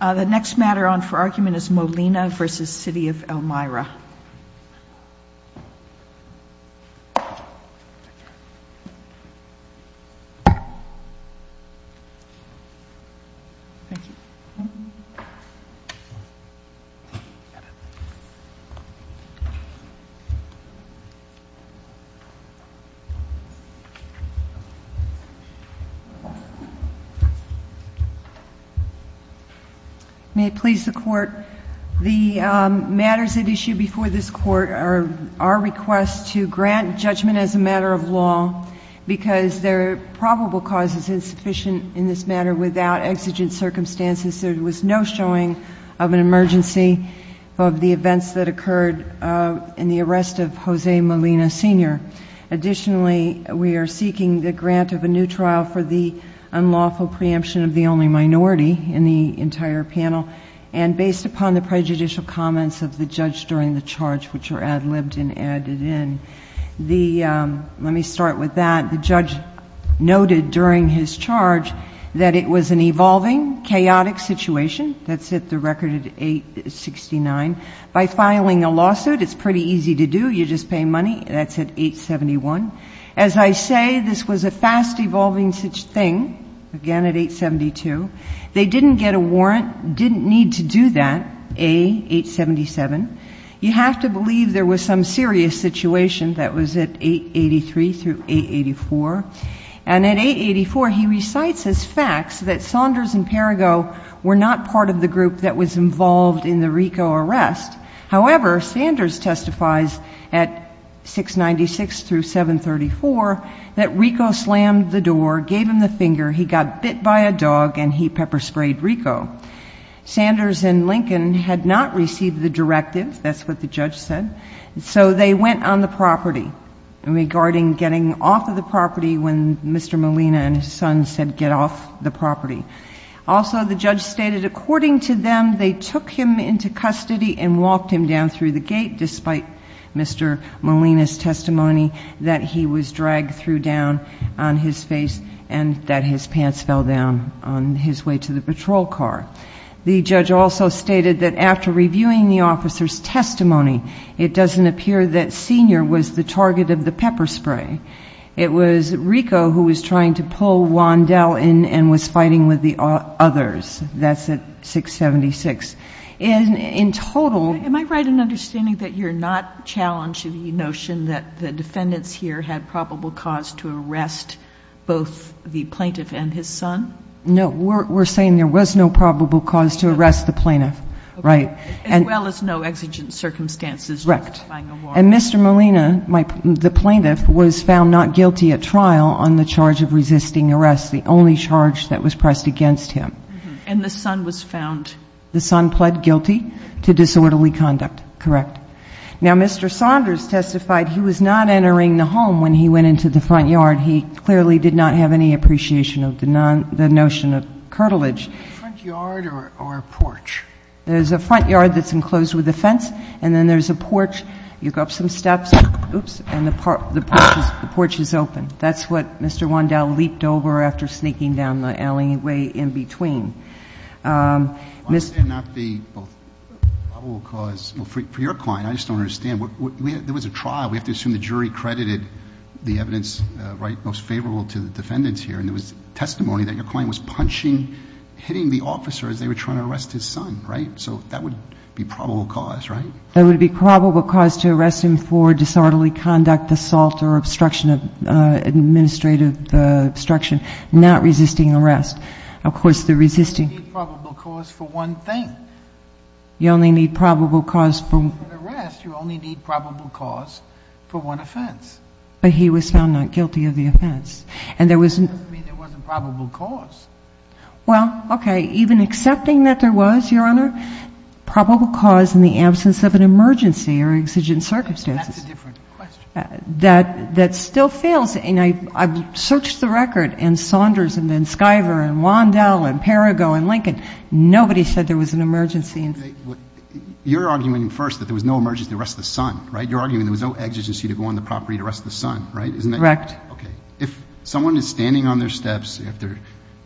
The next matter on for argument is Molina v. City of Elmira. May it please the Court, the matters at issue before this Court are our request to grant judgment as a matter of law because there are probable causes insufficient in this matter without exigent circumstances. There was no showing of an emergency of the events that occurred in the arrest of Jose Molina Sr. Additionally, we are seeking the grant of a new trial for the unlawful preemption of the only minority in the entire panel and based upon the prejudicial comments of the judge during the charge which were ad libbed and added in. The, let me start with that. The judge noted during his charge that it was an evolving, chaotic situation. That's at the record at 869. By filing a lawsuit it's pretty easy to do. You just pay money. That's at 871. As I say, this was a fast evolving thing, again at 872. They didn't get a warrant, didn't need to do that, A877. You have to believe there was some serious situation that was at 883 through 884. And at 884 he recites as facts that Saunders and Perrigo were not part of the group that was in charge. Saunders testifies at 696 through 734 that Rico slammed the door, gave him the finger, he got bit by a dog and he pepper sprayed Rico. Saunders and Lincoln had not received the directive, that's what the judge said, so they went on the property regarding getting off of the property when Mr. Molina and his son said get off the property. Also the judge stated according to them they took him into custody and walked him down through the gate despite Mr. Molina's testimony that he was dragged through down on his face and that his pants fell down on his way to the patrol car. The judge also stated that after reviewing the officer's testimony it doesn't appear that Senior was the target of the pepper spray. It was Rico who was trying to pull Wandel in and was fighting with the others. That's at 676. And in total... Am I right in understanding that you're not challenged to the notion that the defendants here had probable cause to arrest both the plaintiff and his son? No, we're saying there was no probable cause to arrest the plaintiff. As well as no exigent circumstances. Correct. And Mr. Molina, the plaintiff, was found not guilty at trial on the charge of and the son was found? The son pled guilty to disorderly conduct. Correct. Now Mr. Saunders testified he was not entering the home when he went into the front yard. He clearly did not have any appreciation of the notion of curtilage. Front yard or porch? There's a front yard that's enclosed with a fence and then there's a porch. You go up some steps and the porch is open. That's what Mr. Wandel leaped over after sneaking down the alleyway in between. Why would there not be both probable cause... For your client, I just don't understand. There was a trial. We have to assume the jury credited the evidence most favorable to the defendants here. And there was testimony that your client was punching, hitting the officer as they were trying to arrest his son. Right? So that would be probable cause, right? That would be probable cause to arrest him for disorderly conduct, assault, or obstruction of administrative obstruction, not resisting arrest. Of course, the resisting... You need probable cause for one thing. You only need probable cause for... For an arrest, you only need probable cause for one offense. But he was found not guilty of the offense. And there was... That doesn't mean there wasn't probable cause. Well, okay. Even accepting that there was, Your Honor, probable cause in the absence of an emergency or exigent circumstances. That's a different question. That still fails. And I've searched the record, and Saunders, and then Skiver, and Wandel, and Perigo, and Lincoln. Nobody said there was an emergency. You're arguing first that there was no emergency to arrest the son, right? You're arguing there was no exigency to go on the property to arrest the son, right? Isn't that... Correct. Okay. If someone is standing on their steps, if they're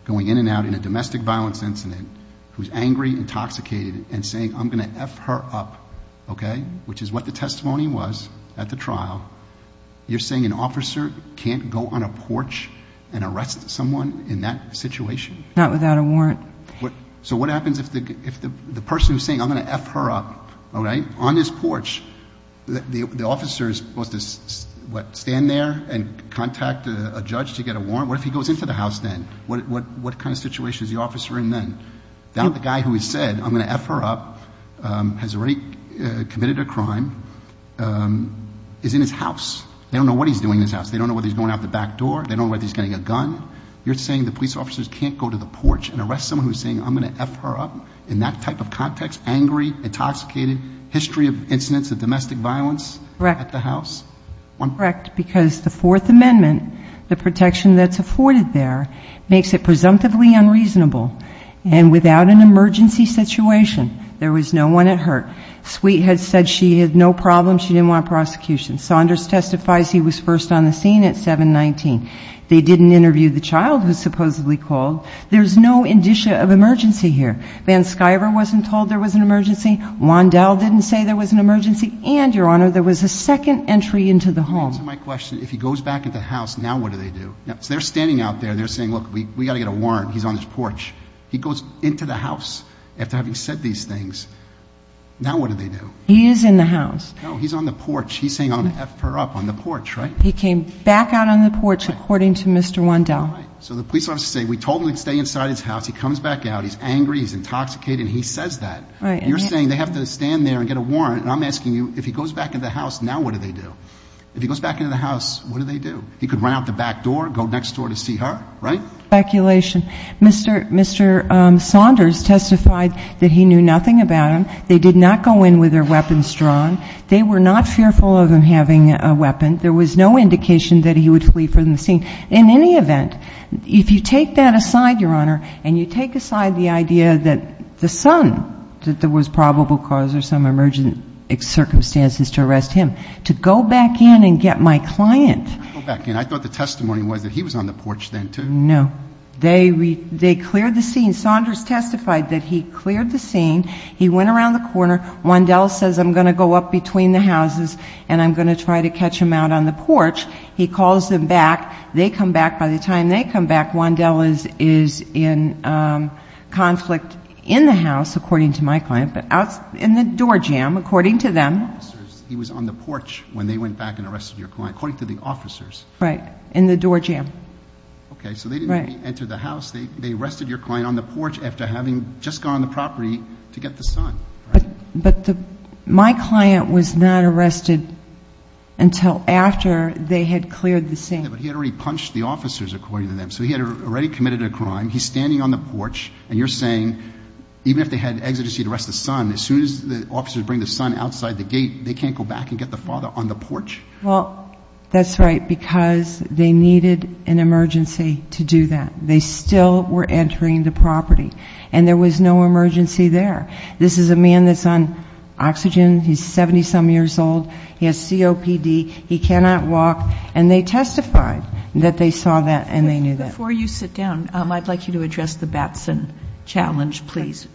going in and out in a domestic violence incident, who's angry, intoxicated, and saying, I'm going to F her up, okay, which is what the testimony was at the trial, you're saying an officer can't go on a porch and arrest someone in that situation? Not without a warrant. So what happens if the person who's saying, I'm going to F her up, okay, on this porch, the officer is supposed to, what, stand there and contact a judge to get a warrant? What if he goes into the house then? What kind of situation is the officer in then? The guy who has said, I'm going to F her up, has already committed a crime, is in his house. They don't know what he's doing in his house. They don't know whether he's going out the back door. They don't know whether he's getting a gun. You're saying the police officers can't go to the porch and arrest someone who's saying, I'm going to F her up, in that type of context, angry, intoxicated, history of incidents of domestic violence at the house? Correct. Because the Fourth Amendment, the protection that's afforded there, makes it And without an emergency situation, there was no one at hurt. Sweet had said she had no problem, she didn't want prosecution. Saunders testifies he was first on the scene at 7-19. They didn't interview the child who was supposedly called. There's no indicia of emergency here. Van Schuyver wasn't told there was an emergency. Wondell didn't say there was an emergency. And, Your Honor, there was a second entry into the home. To answer my question, if he goes back into the house, now what do they do? They're standing out there, they're saying, look, we've got to get a warrant, he's on this porch. He goes into the house after having said these things. Now what do they do? He is in the house. No, he's on the porch. He's saying, I'm going to F her up, on the porch, right? He came back out on the porch, according to Mr. Wondell. So the police officers say, we told him to stay inside his house, he comes back out, he's angry, he's intoxicated, he says that. You're saying they have to stand there and get a warrant, and I'm asking you, if he goes back into the house, now what do they do? If he goes back into the house, what do they do? He could run out the back door, go next door to see her, right? Speculation. Mr. Saunders testified that he knew nothing about him. They did not go in with their weapons drawn. They were not fearful of him having a weapon. There was no indication that he would flee from the scene. In any event, if you take that aside, Your Honor, and you take aside the idea that the son, that there was probable cause or some emergent circumstances to arrest him, to go back in and get my client. Go back in? I thought the testimony was that he was on the porch then, too. No. They cleared the scene. Saunders testified that he cleared the scene. He went around the corner. Wondell says, I'm going to go up between the houses, and I'm going to try to catch him out on the porch. He calls them back. They come back. By the time they come back, Wondell is in conflict in the house, according to my client, but in the door jam, according to them. He was on the porch when they went back and arrested your client, according to the officers. Right. In the door jam. Okay, so they didn't really enter the house. They arrested your client on the porch after having just gone on the property to get the son. But my client was not arrested until after they had cleared the scene. But he had already punched the officers, according to them. So he had already committed a crime. He's standing on the porch, and you're saying, even if they had exigency to arrest the son, as soon as the officers bring the son outside the gate, they can't go back and get the father on the porch? Well, that's right, because they needed an emergency to do that. They still were entering the property, and there was no emergency there. This is a man that's on oxygen. He's 70-some years old. He has COPD. He cannot walk. And they testified that they saw that, and they knew that. Before you sit down, I'd like you to address the Batson challenge, please,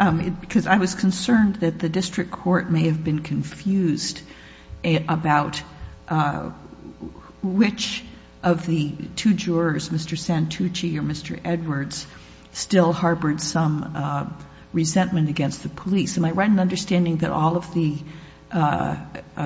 because I was concerned that the district court may have been confused about which of the two jurors, Mr. Santucci or Mr. Edwards, still harbored some resentment against the police. Am I right in understanding that all of the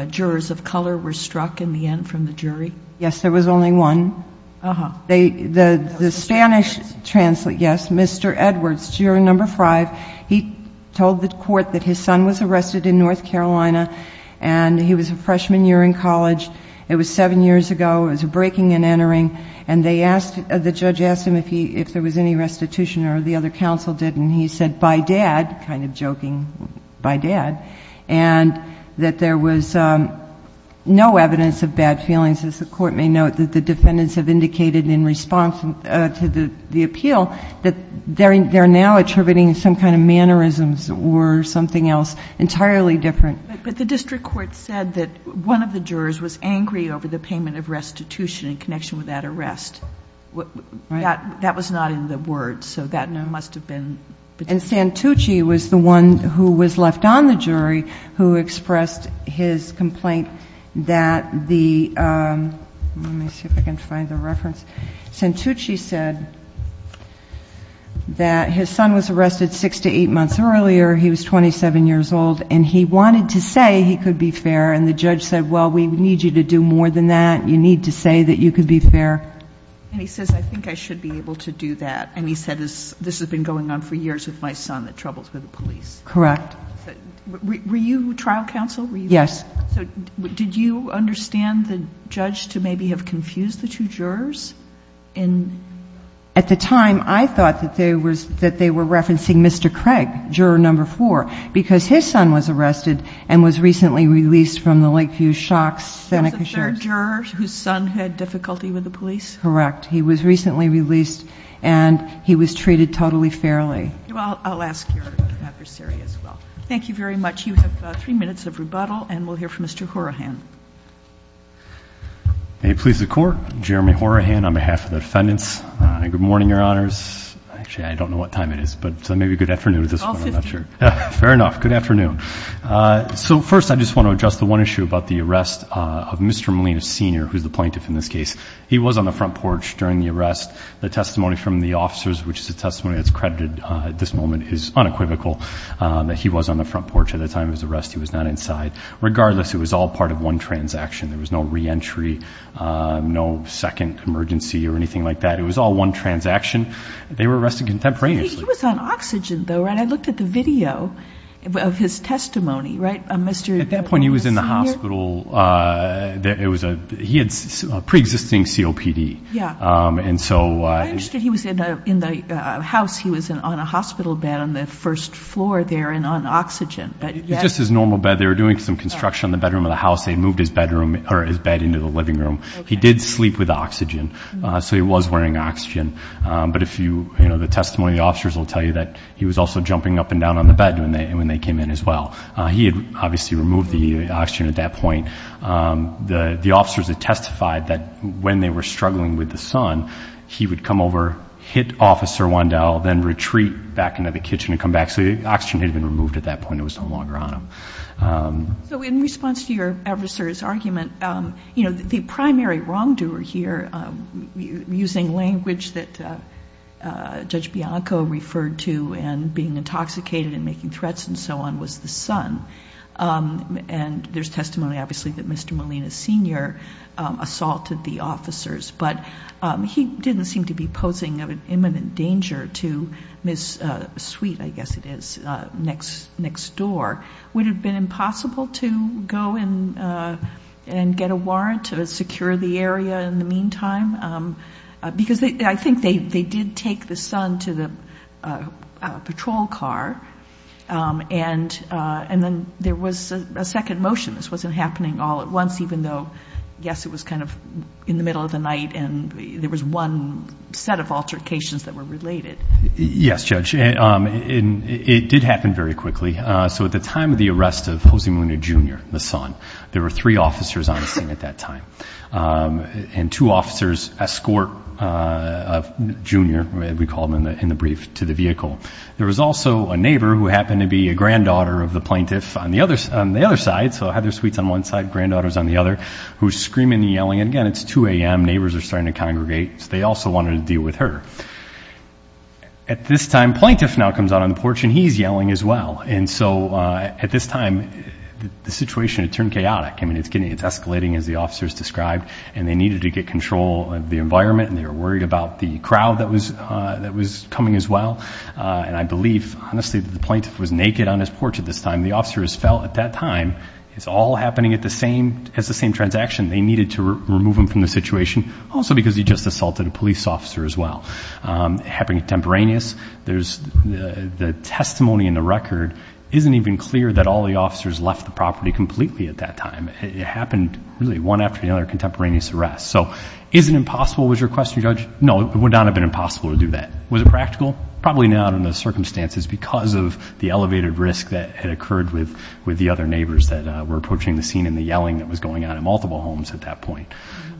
jurors of color were struck in the end from the jury? Yes, there was only one. Uh-huh. The Spanish translate, yes, Mr. Edwards, juror number five, he told the court that his son was arrested in North Carolina, and he was a freshman year in college. It was seven years ago. It was a breaking and entering, and the judge asked him if there was any restitution or the other counsel did, and he said, by dad, kind of joking, by dad, and that there was no evidence of bad feelings, as the court may note, that the defendants have indicated in response to the appeal that they're now attributing some kind of mannerisms or something else entirely different. But the district court said that one of the jurors was angry over the payment of restitution in connection with that arrest. Right. That was not in the words, so that must have been. And Santucci was the one who was left on the jury who expressed his complaint that the let me see if I can find the reference. Santucci said that his son was arrested six to eight months earlier. He was 27 years old, and he wanted to say he could be fair, and the judge said, well, we need you to do more than that. You need to say that you could be fair. And he says, I think I should be able to do that, and he said, this has been going on for years with my son that troubles with the police. Correct. Were you trial counsel? Yes. So did you understand the judge to maybe have confused the two jurors? At the time, I thought that they were referencing Mr. Craig, juror number four, because his son was arrested and was recently released from the Lakeview Shocks. The third juror whose son had difficulty with the police? Correct. He was recently released, and he was treated totally fairly. Well, I'll ask your adversary as well. Thank you very much. You have three minutes of rebuttal, and we'll hear from Mr. Horahan. May it please the Court. Jeremy Horahan on behalf of the defendants. Good morning, Your Honors. Actually, I don't know what time it is, but maybe good afternoon is this one. It's all 50. Fair enough. Good afternoon. So first, I just want to address the one issue about the arrest of Mr. Molina Sr., who's the plaintiff in this case. He was on the front porch during the arrest. The testimony from the officers, which is a testimony that's credited at this moment, is unequivocal, that he was on the front porch at the time of his arrest. He was not inside. Regardless, it was all part of one transaction. There was no reentry, no second emergency or anything like that. It was all one transaction. They were arrested contemporaneously. He was on oxygen, though, right? I looked at the video of his testimony, right? At that point, he was in the hospital. He had preexisting COPD. I understood he was in the house. He was on a hospital bed on the first floor there and on oxygen. It was just his normal bed. They were doing some construction on the bedroom of the house. They had moved his bed into the living room. He did sleep with oxygen, so he was wearing oxygen. But the testimony of the officers will tell you that he was also jumping up and down on the bed when they came in as well. He had obviously removed the oxygen at that point. The officers had testified that when they were struggling with the son, he would come over, hit Officer Wandel, then retreat back into the kitchen and come back. So the oxygen had been removed at that point. It was no longer on him. In response to your adversary's argument, the primary wrongdoer here, using language that Judge Bianco referred to in being intoxicated and making threats and so on, was the son. There's testimony, obviously, that Mr. Molina Sr. assaulted the officers, but he didn't seem to be posing an imminent danger to Ms. Sweet, I guess it is, next door. Would it have been impossible to go and get a warrant to secure the area in the meantime? Because I think they did take the son to the patrol car, and then there was a second motion. This wasn't happening all at once, even though, yes, it was kind of in the middle of the night and there was one set of altercations that were related. Yes, Judge. It did happen very quickly. So at the time of the arrest of Jose Molina Jr., the son, there were three officers on the scene at that time. And two officers escort a junior, we called him in the brief, to the vehicle. There was also a neighbor who happened to be a granddaughter of the plaintiff on the other side, so Heather Sweet's on one side, granddaughter's on the other, who's screaming and yelling. And again, it's 2 a.m. Neighbors are starting to congregate, so they also wanted to deal with her. At this time, plaintiff now comes out on the porch and he's yelling as well. And so at this time, the situation had turned chaotic. I mean, it's escalating, as the officers described, and they needed to get control of the environment, and they were worried about the crowd that was coming as well. And I believe, honestly, that the plaintiff was naked on his porch at this time. The officers felt at that time it's all happening at the same transaction. They needed to remove him from the situation, also because he just assaulted a police officer as well. It happened contemporaneous. The testimony in the record isn't even clear that all the officers left the property completely at that time. It happened really one after the other, contemporaneous arrests. So is it impossible was your question, Judge? No, it would not have been impossible to do that. Was it practical? Probably not in those circumstances because of the elevated risk that had occurred with the other neighbors that were approaching the scene and the yelling that was going on in multiple homes at that point.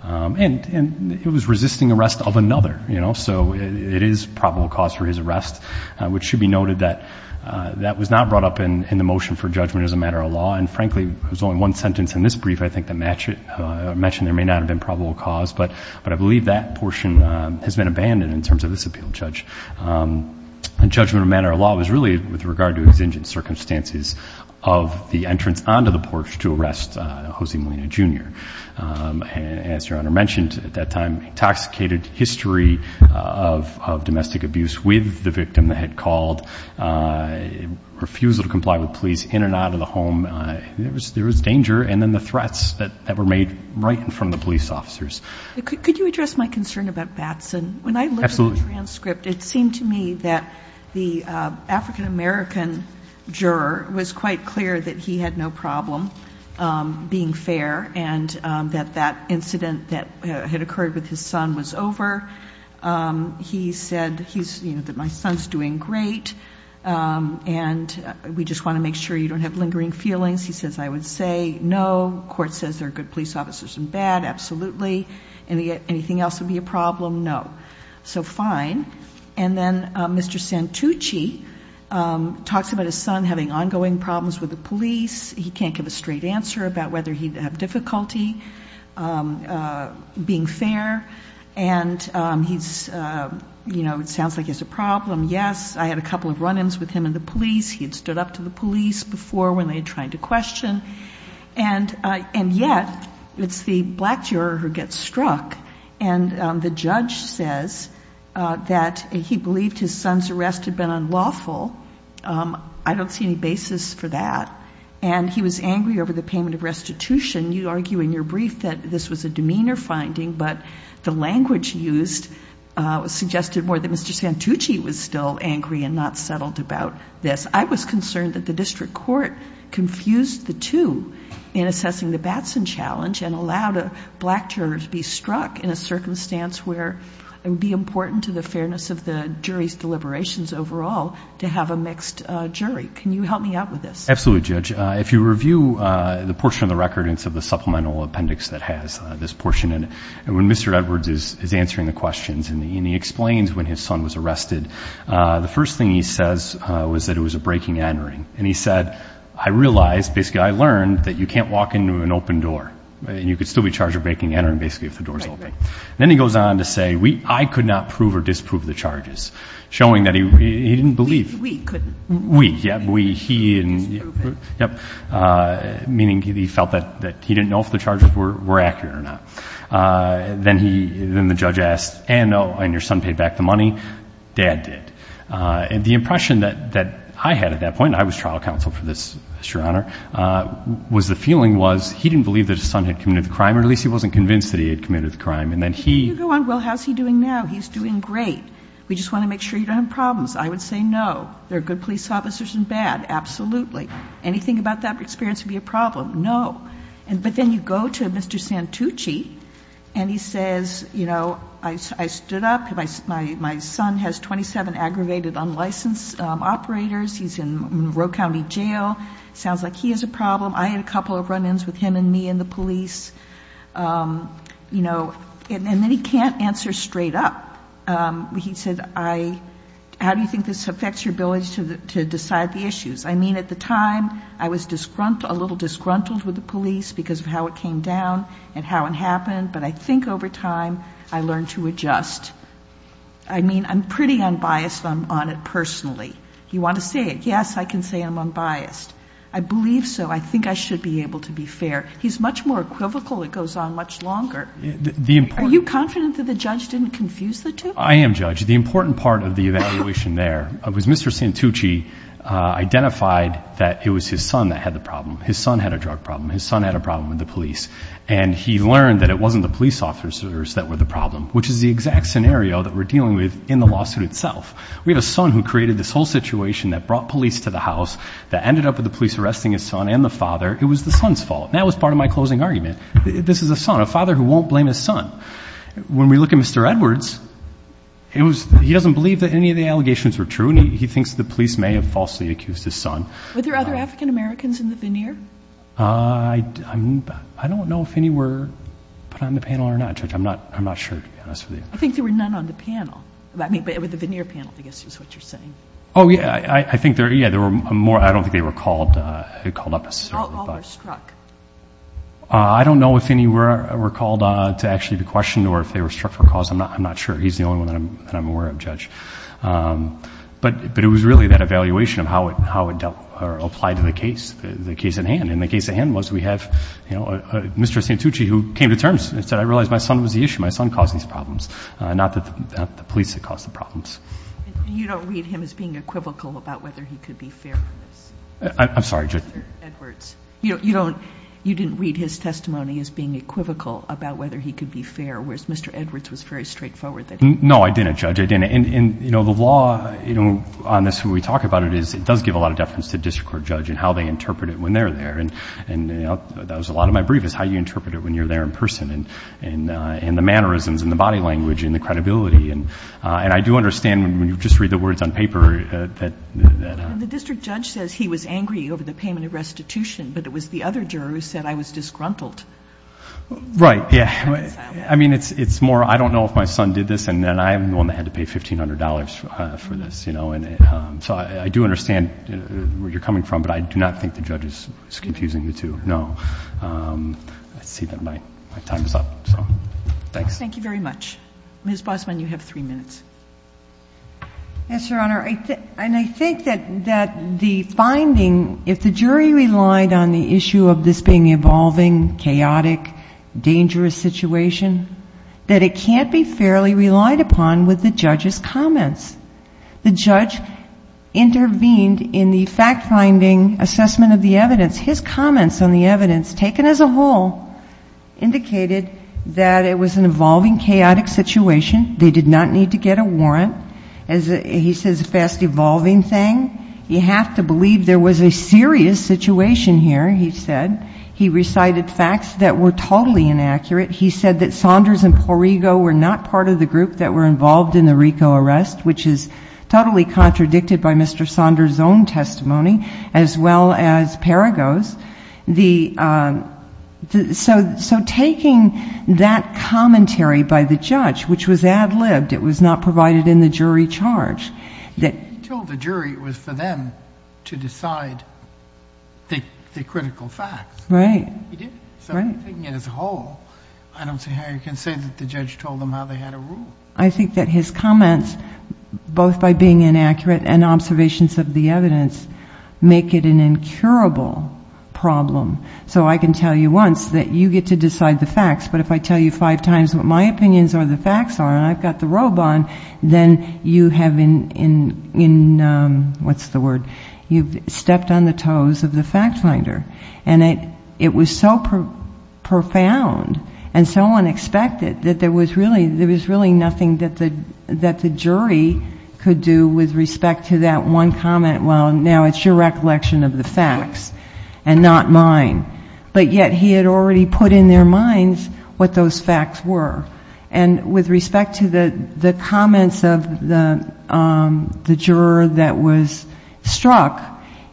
And it was resisting arrest of another, you know, so it is probable cause for his arrest, which should be noted that that was not brought up in the motion for judgment as a matter of law. And, frankly, there's only one sentence in this brief, I think, that matched it. It mentioned there may not have been probable cause, but I believe that portion has been abandoned in terms of this appeal, Judge. And judgment of matter of law was really with regard to exigent circumstances of the entrance onto the porch to arrest Jose Molina, Jr. As Your Honor mentioned at that time, intoxicated history of domestic abuse with the victim that had called, refusal to comply with police in and out of the home. There was danger and then the threats that were made right in front of the police officers. Could you address my concern about Batson? Absolutely. When I looked at the transcript, it seemed to me that the African-American juror was quite clear that he had no problem being fair and that that incident that had occurred with his son was over. He said, you know, that my son's doing great and we just want to make sure you don't have lingering feelings. He says, I would say no. Court says there are good police officers and bad, absolutely. Anything else would be a problem? No. So, fine. And then Mr. Santucci talks about his son having ongoing problems with the police. He can't give a straight answer about whether he'd have difficulty being fair. And he's, you know, it sounds like he has a problem. Yes, I had a couple of run-ins with him and the police. He had stood up to the police before when they had tried to question. And yet, it's the black juror who gets struck. And the judge says that he believed his son's arrest had been unlawful. I don't see any basis for that. And he was angry over the payment of restitution. You argue in your brief that this was a demeanor finding, but the language used suggested more that Mr. Santucci was still angry and not settled about this. I was concerned that the district court confused the two in assessing the Batson Challenge and allowed a black juror to be struck in a circumstance where it would be important to the fairness of the jury's deliberations overall to have a mixed jury. Can you help me out with this? Absolutely, Judge. If you review the portion of the record and some of the supplemental appendix that has this portion in it, when Mr. Edwards is answering the questions and he explains when his son was arrested, the first thing he says was that it was a breaking and entering. And he said, I realized, basically I learned, that you can't walk into an open door. And you could still be charged with breaking and entering basically if the door is open. Then he goes on to say, I could not prove or disprove the charges, showing that he didn't believe. We couldn't. We, yeah. He didn't. Disprove it. Yep. Meaning he felt that he didn't know if the charges were accurate or not. Then the judge asked, and, oh, and your son paid back the money? Dad did. And the impression that I had at that point, and I was trial counsel for this, Your Honor, was the feeling was he didn't believe that his son had committed the crime, or at least he wasn't convinced that he had committed the crime. And then he go on, well, how's he doing now? He's doing great. We just want to make sure you don't have problems. I would say no. There are good police officers and bad. Absolutely. Anything about that experience would be a problem. No. But then you go to Mr. Santucci and he says, you know, I stood up. My son has 27 aggravated unlicensed operators. He's in Roe County Jail. Sounds like he has a problem. I had a couple of run-ins with him and me and the police. You know, and then he can't answer straight up. He said, how do you think this affects your ability to decide the issues? I mean, at the time I was a little disgruntled with the police because of how it came down and how it happened, but I think over time I learned to adjust. I mean, I'm pretty unbiased on it personally. You want to say it? Yes, I can say I'm unbiased. I believe so. I think I should be able to be fair. He's much more equivocal. It goes on much longer. Are you confident that the judge didn't confuse the two? I am, Judge. The important part of the evaluation there was Mr. Santucci identified that it was his son that had the problem. His son had a drug problem. His son had a problem with the police. And he learned that it wasn't the police officers that were the problem, which is the exact scenario that we're dealing with in the lawsuit itself. We have a son who created this whole situation that brought police to the house, that ended up with the police arresting his son and the father. It was the son's fault, and that was part of my closing argument. This is a son, a father who won't blame his son. When we look at Mr. Edwards, he doesn't believe that any of the allegations were true, and he thinks the police may have falsely accused his son. Were there other African-Americans in the veneer? I don't know if any were put on the panel or not, Judge. I'm not sure, to be honest with you. I think there were none on the panel. I mean, with the veneer panel, I guess is what you're saying. Oh, yeah. I think there were more. I don't think they were called up necessarily. All were struck. I don't know if any were called to actually be questioned or if they were struck for a cause. I'm not sure. He's the only one that I'm aware of, Judge. But it was really that evaluation of how it applied to the case, the case at hand. And the case at hand was we have Mr. Santucci who came to terms and said, I realize my son was the issue. My son caused these problems, not the police that caused the problems. You don't read him as being equivocal about whether he could be fair in this? I'm sorry, Judge. Mr. Edwards. You didn't read his testimony as being equivocal about whether he could be fair, whereas Mr. Edwards was very straightforward that he could be fair. No, I didn't, Judge. I didn't. And, you know, the law on this, when we talk about it, it does give a lot of deference to district court judge and how they interpret it when they're there. And that was a lot of my brief, is how you interpret it when you're there in person and the mannerisms and the body language and the credibility. And I do understand when you just read the words on paper. The district judge says he was angry over the payment of restitution, but it was the other juror who said I was disgruntled. Right. Yeah. I mean, it's more I don't know if my son did this, and then I'm the one that had to pay $1,500 for this, you know. So I do understand where you're coming from, but I do not think the judge is confusing the two. No. I see that my time is up. Thanks. Thank you very much. Ms. Bosman, you have three minutes. Yes, Your Honor. And I think that the finding, if the jury relied on the issue of this being an evolving, chaotic, dangerous situation, that it can't be fairly relied upon with the judge's comments. The judge intervened in the fact-finding assessment of the evidence. His comments on the evidence taken as a whole indicated that it was an evolving, chaotic situation. They did not need to get a warrant. He says it's a fast-evolving thing. You have to believe there was a serious situation here, he said. He recited facts that were totally inaccurate. He said that Saunders and Porrego were not part of the group that were involved in the RICO arrest, which is totally contradicted by Mr. Saunders' own testimony, as well as Perigo's. So taking that commentary by the judge, which was ad libbed, it was not provided in the jury charge. He told the jury it was for them to decide the critical facts. Right. He did. So taking it as a whole, I don't see how you can say that the judge told them how they had to rule. I think that his comments, both by being inaccurate and observations of the evidence, make it an incurable problem. So I can tell you once that you get to decide the facts, but if I tell you five times what my opinions or the facts are and I've got the robe on, then you have been in, what's the word, you've stepped on the toes of the fact-finder. And it was so profound and so unexpected that there was really nothing that the jury could do with respect to that one comment, well, now it's your recollection of the facts and not mine. But yet he had already put in their minds what those facts were. And with respect to the comments of the juror that was struck,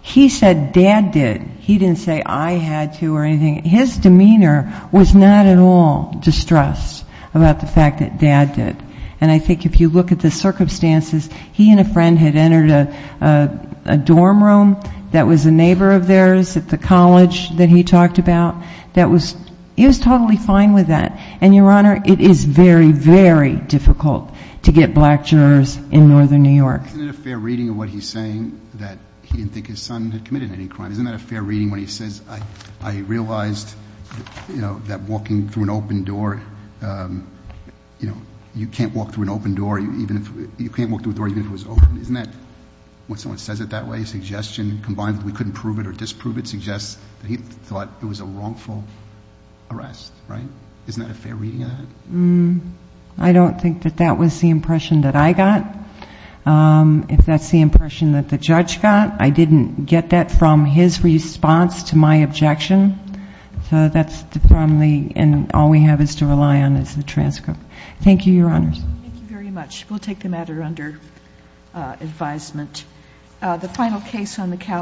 he said dad did. He didn't say I had to or anything. His demeanor was not at all distressed about the fact that dad did. And I think if you look at the circumstances, he and a friend had entered a dorm room that was a neighbor of theirs at the college that he talked about. He was totally fine with that. And, Your Honor, it is very, very difficult to get black jurors in northern New York. Isn't it a fair reading of what he's saying that he didn't think his son had committed any crime? Isn't that a fair reading when he says I realized that walking through an open door, you know, you can't walk through an open door even if you can't walk through a door even if it was open. Isn't that when someone says it that way, a suggestion, combined with we couldn't prove it or disprove it, suggests that he thought it was a wrongful arrest, right? Isn't that a fair reading of that? I don't think that that was the impression that I got. If that's the impression that the judge got, I didn't get that from his response to my objection. So that's the problem. And all we have is to rely on is the transcript. Thank you, Your Honors. Thank you very much. We'll take the matter under advisement. The final case on the calendar.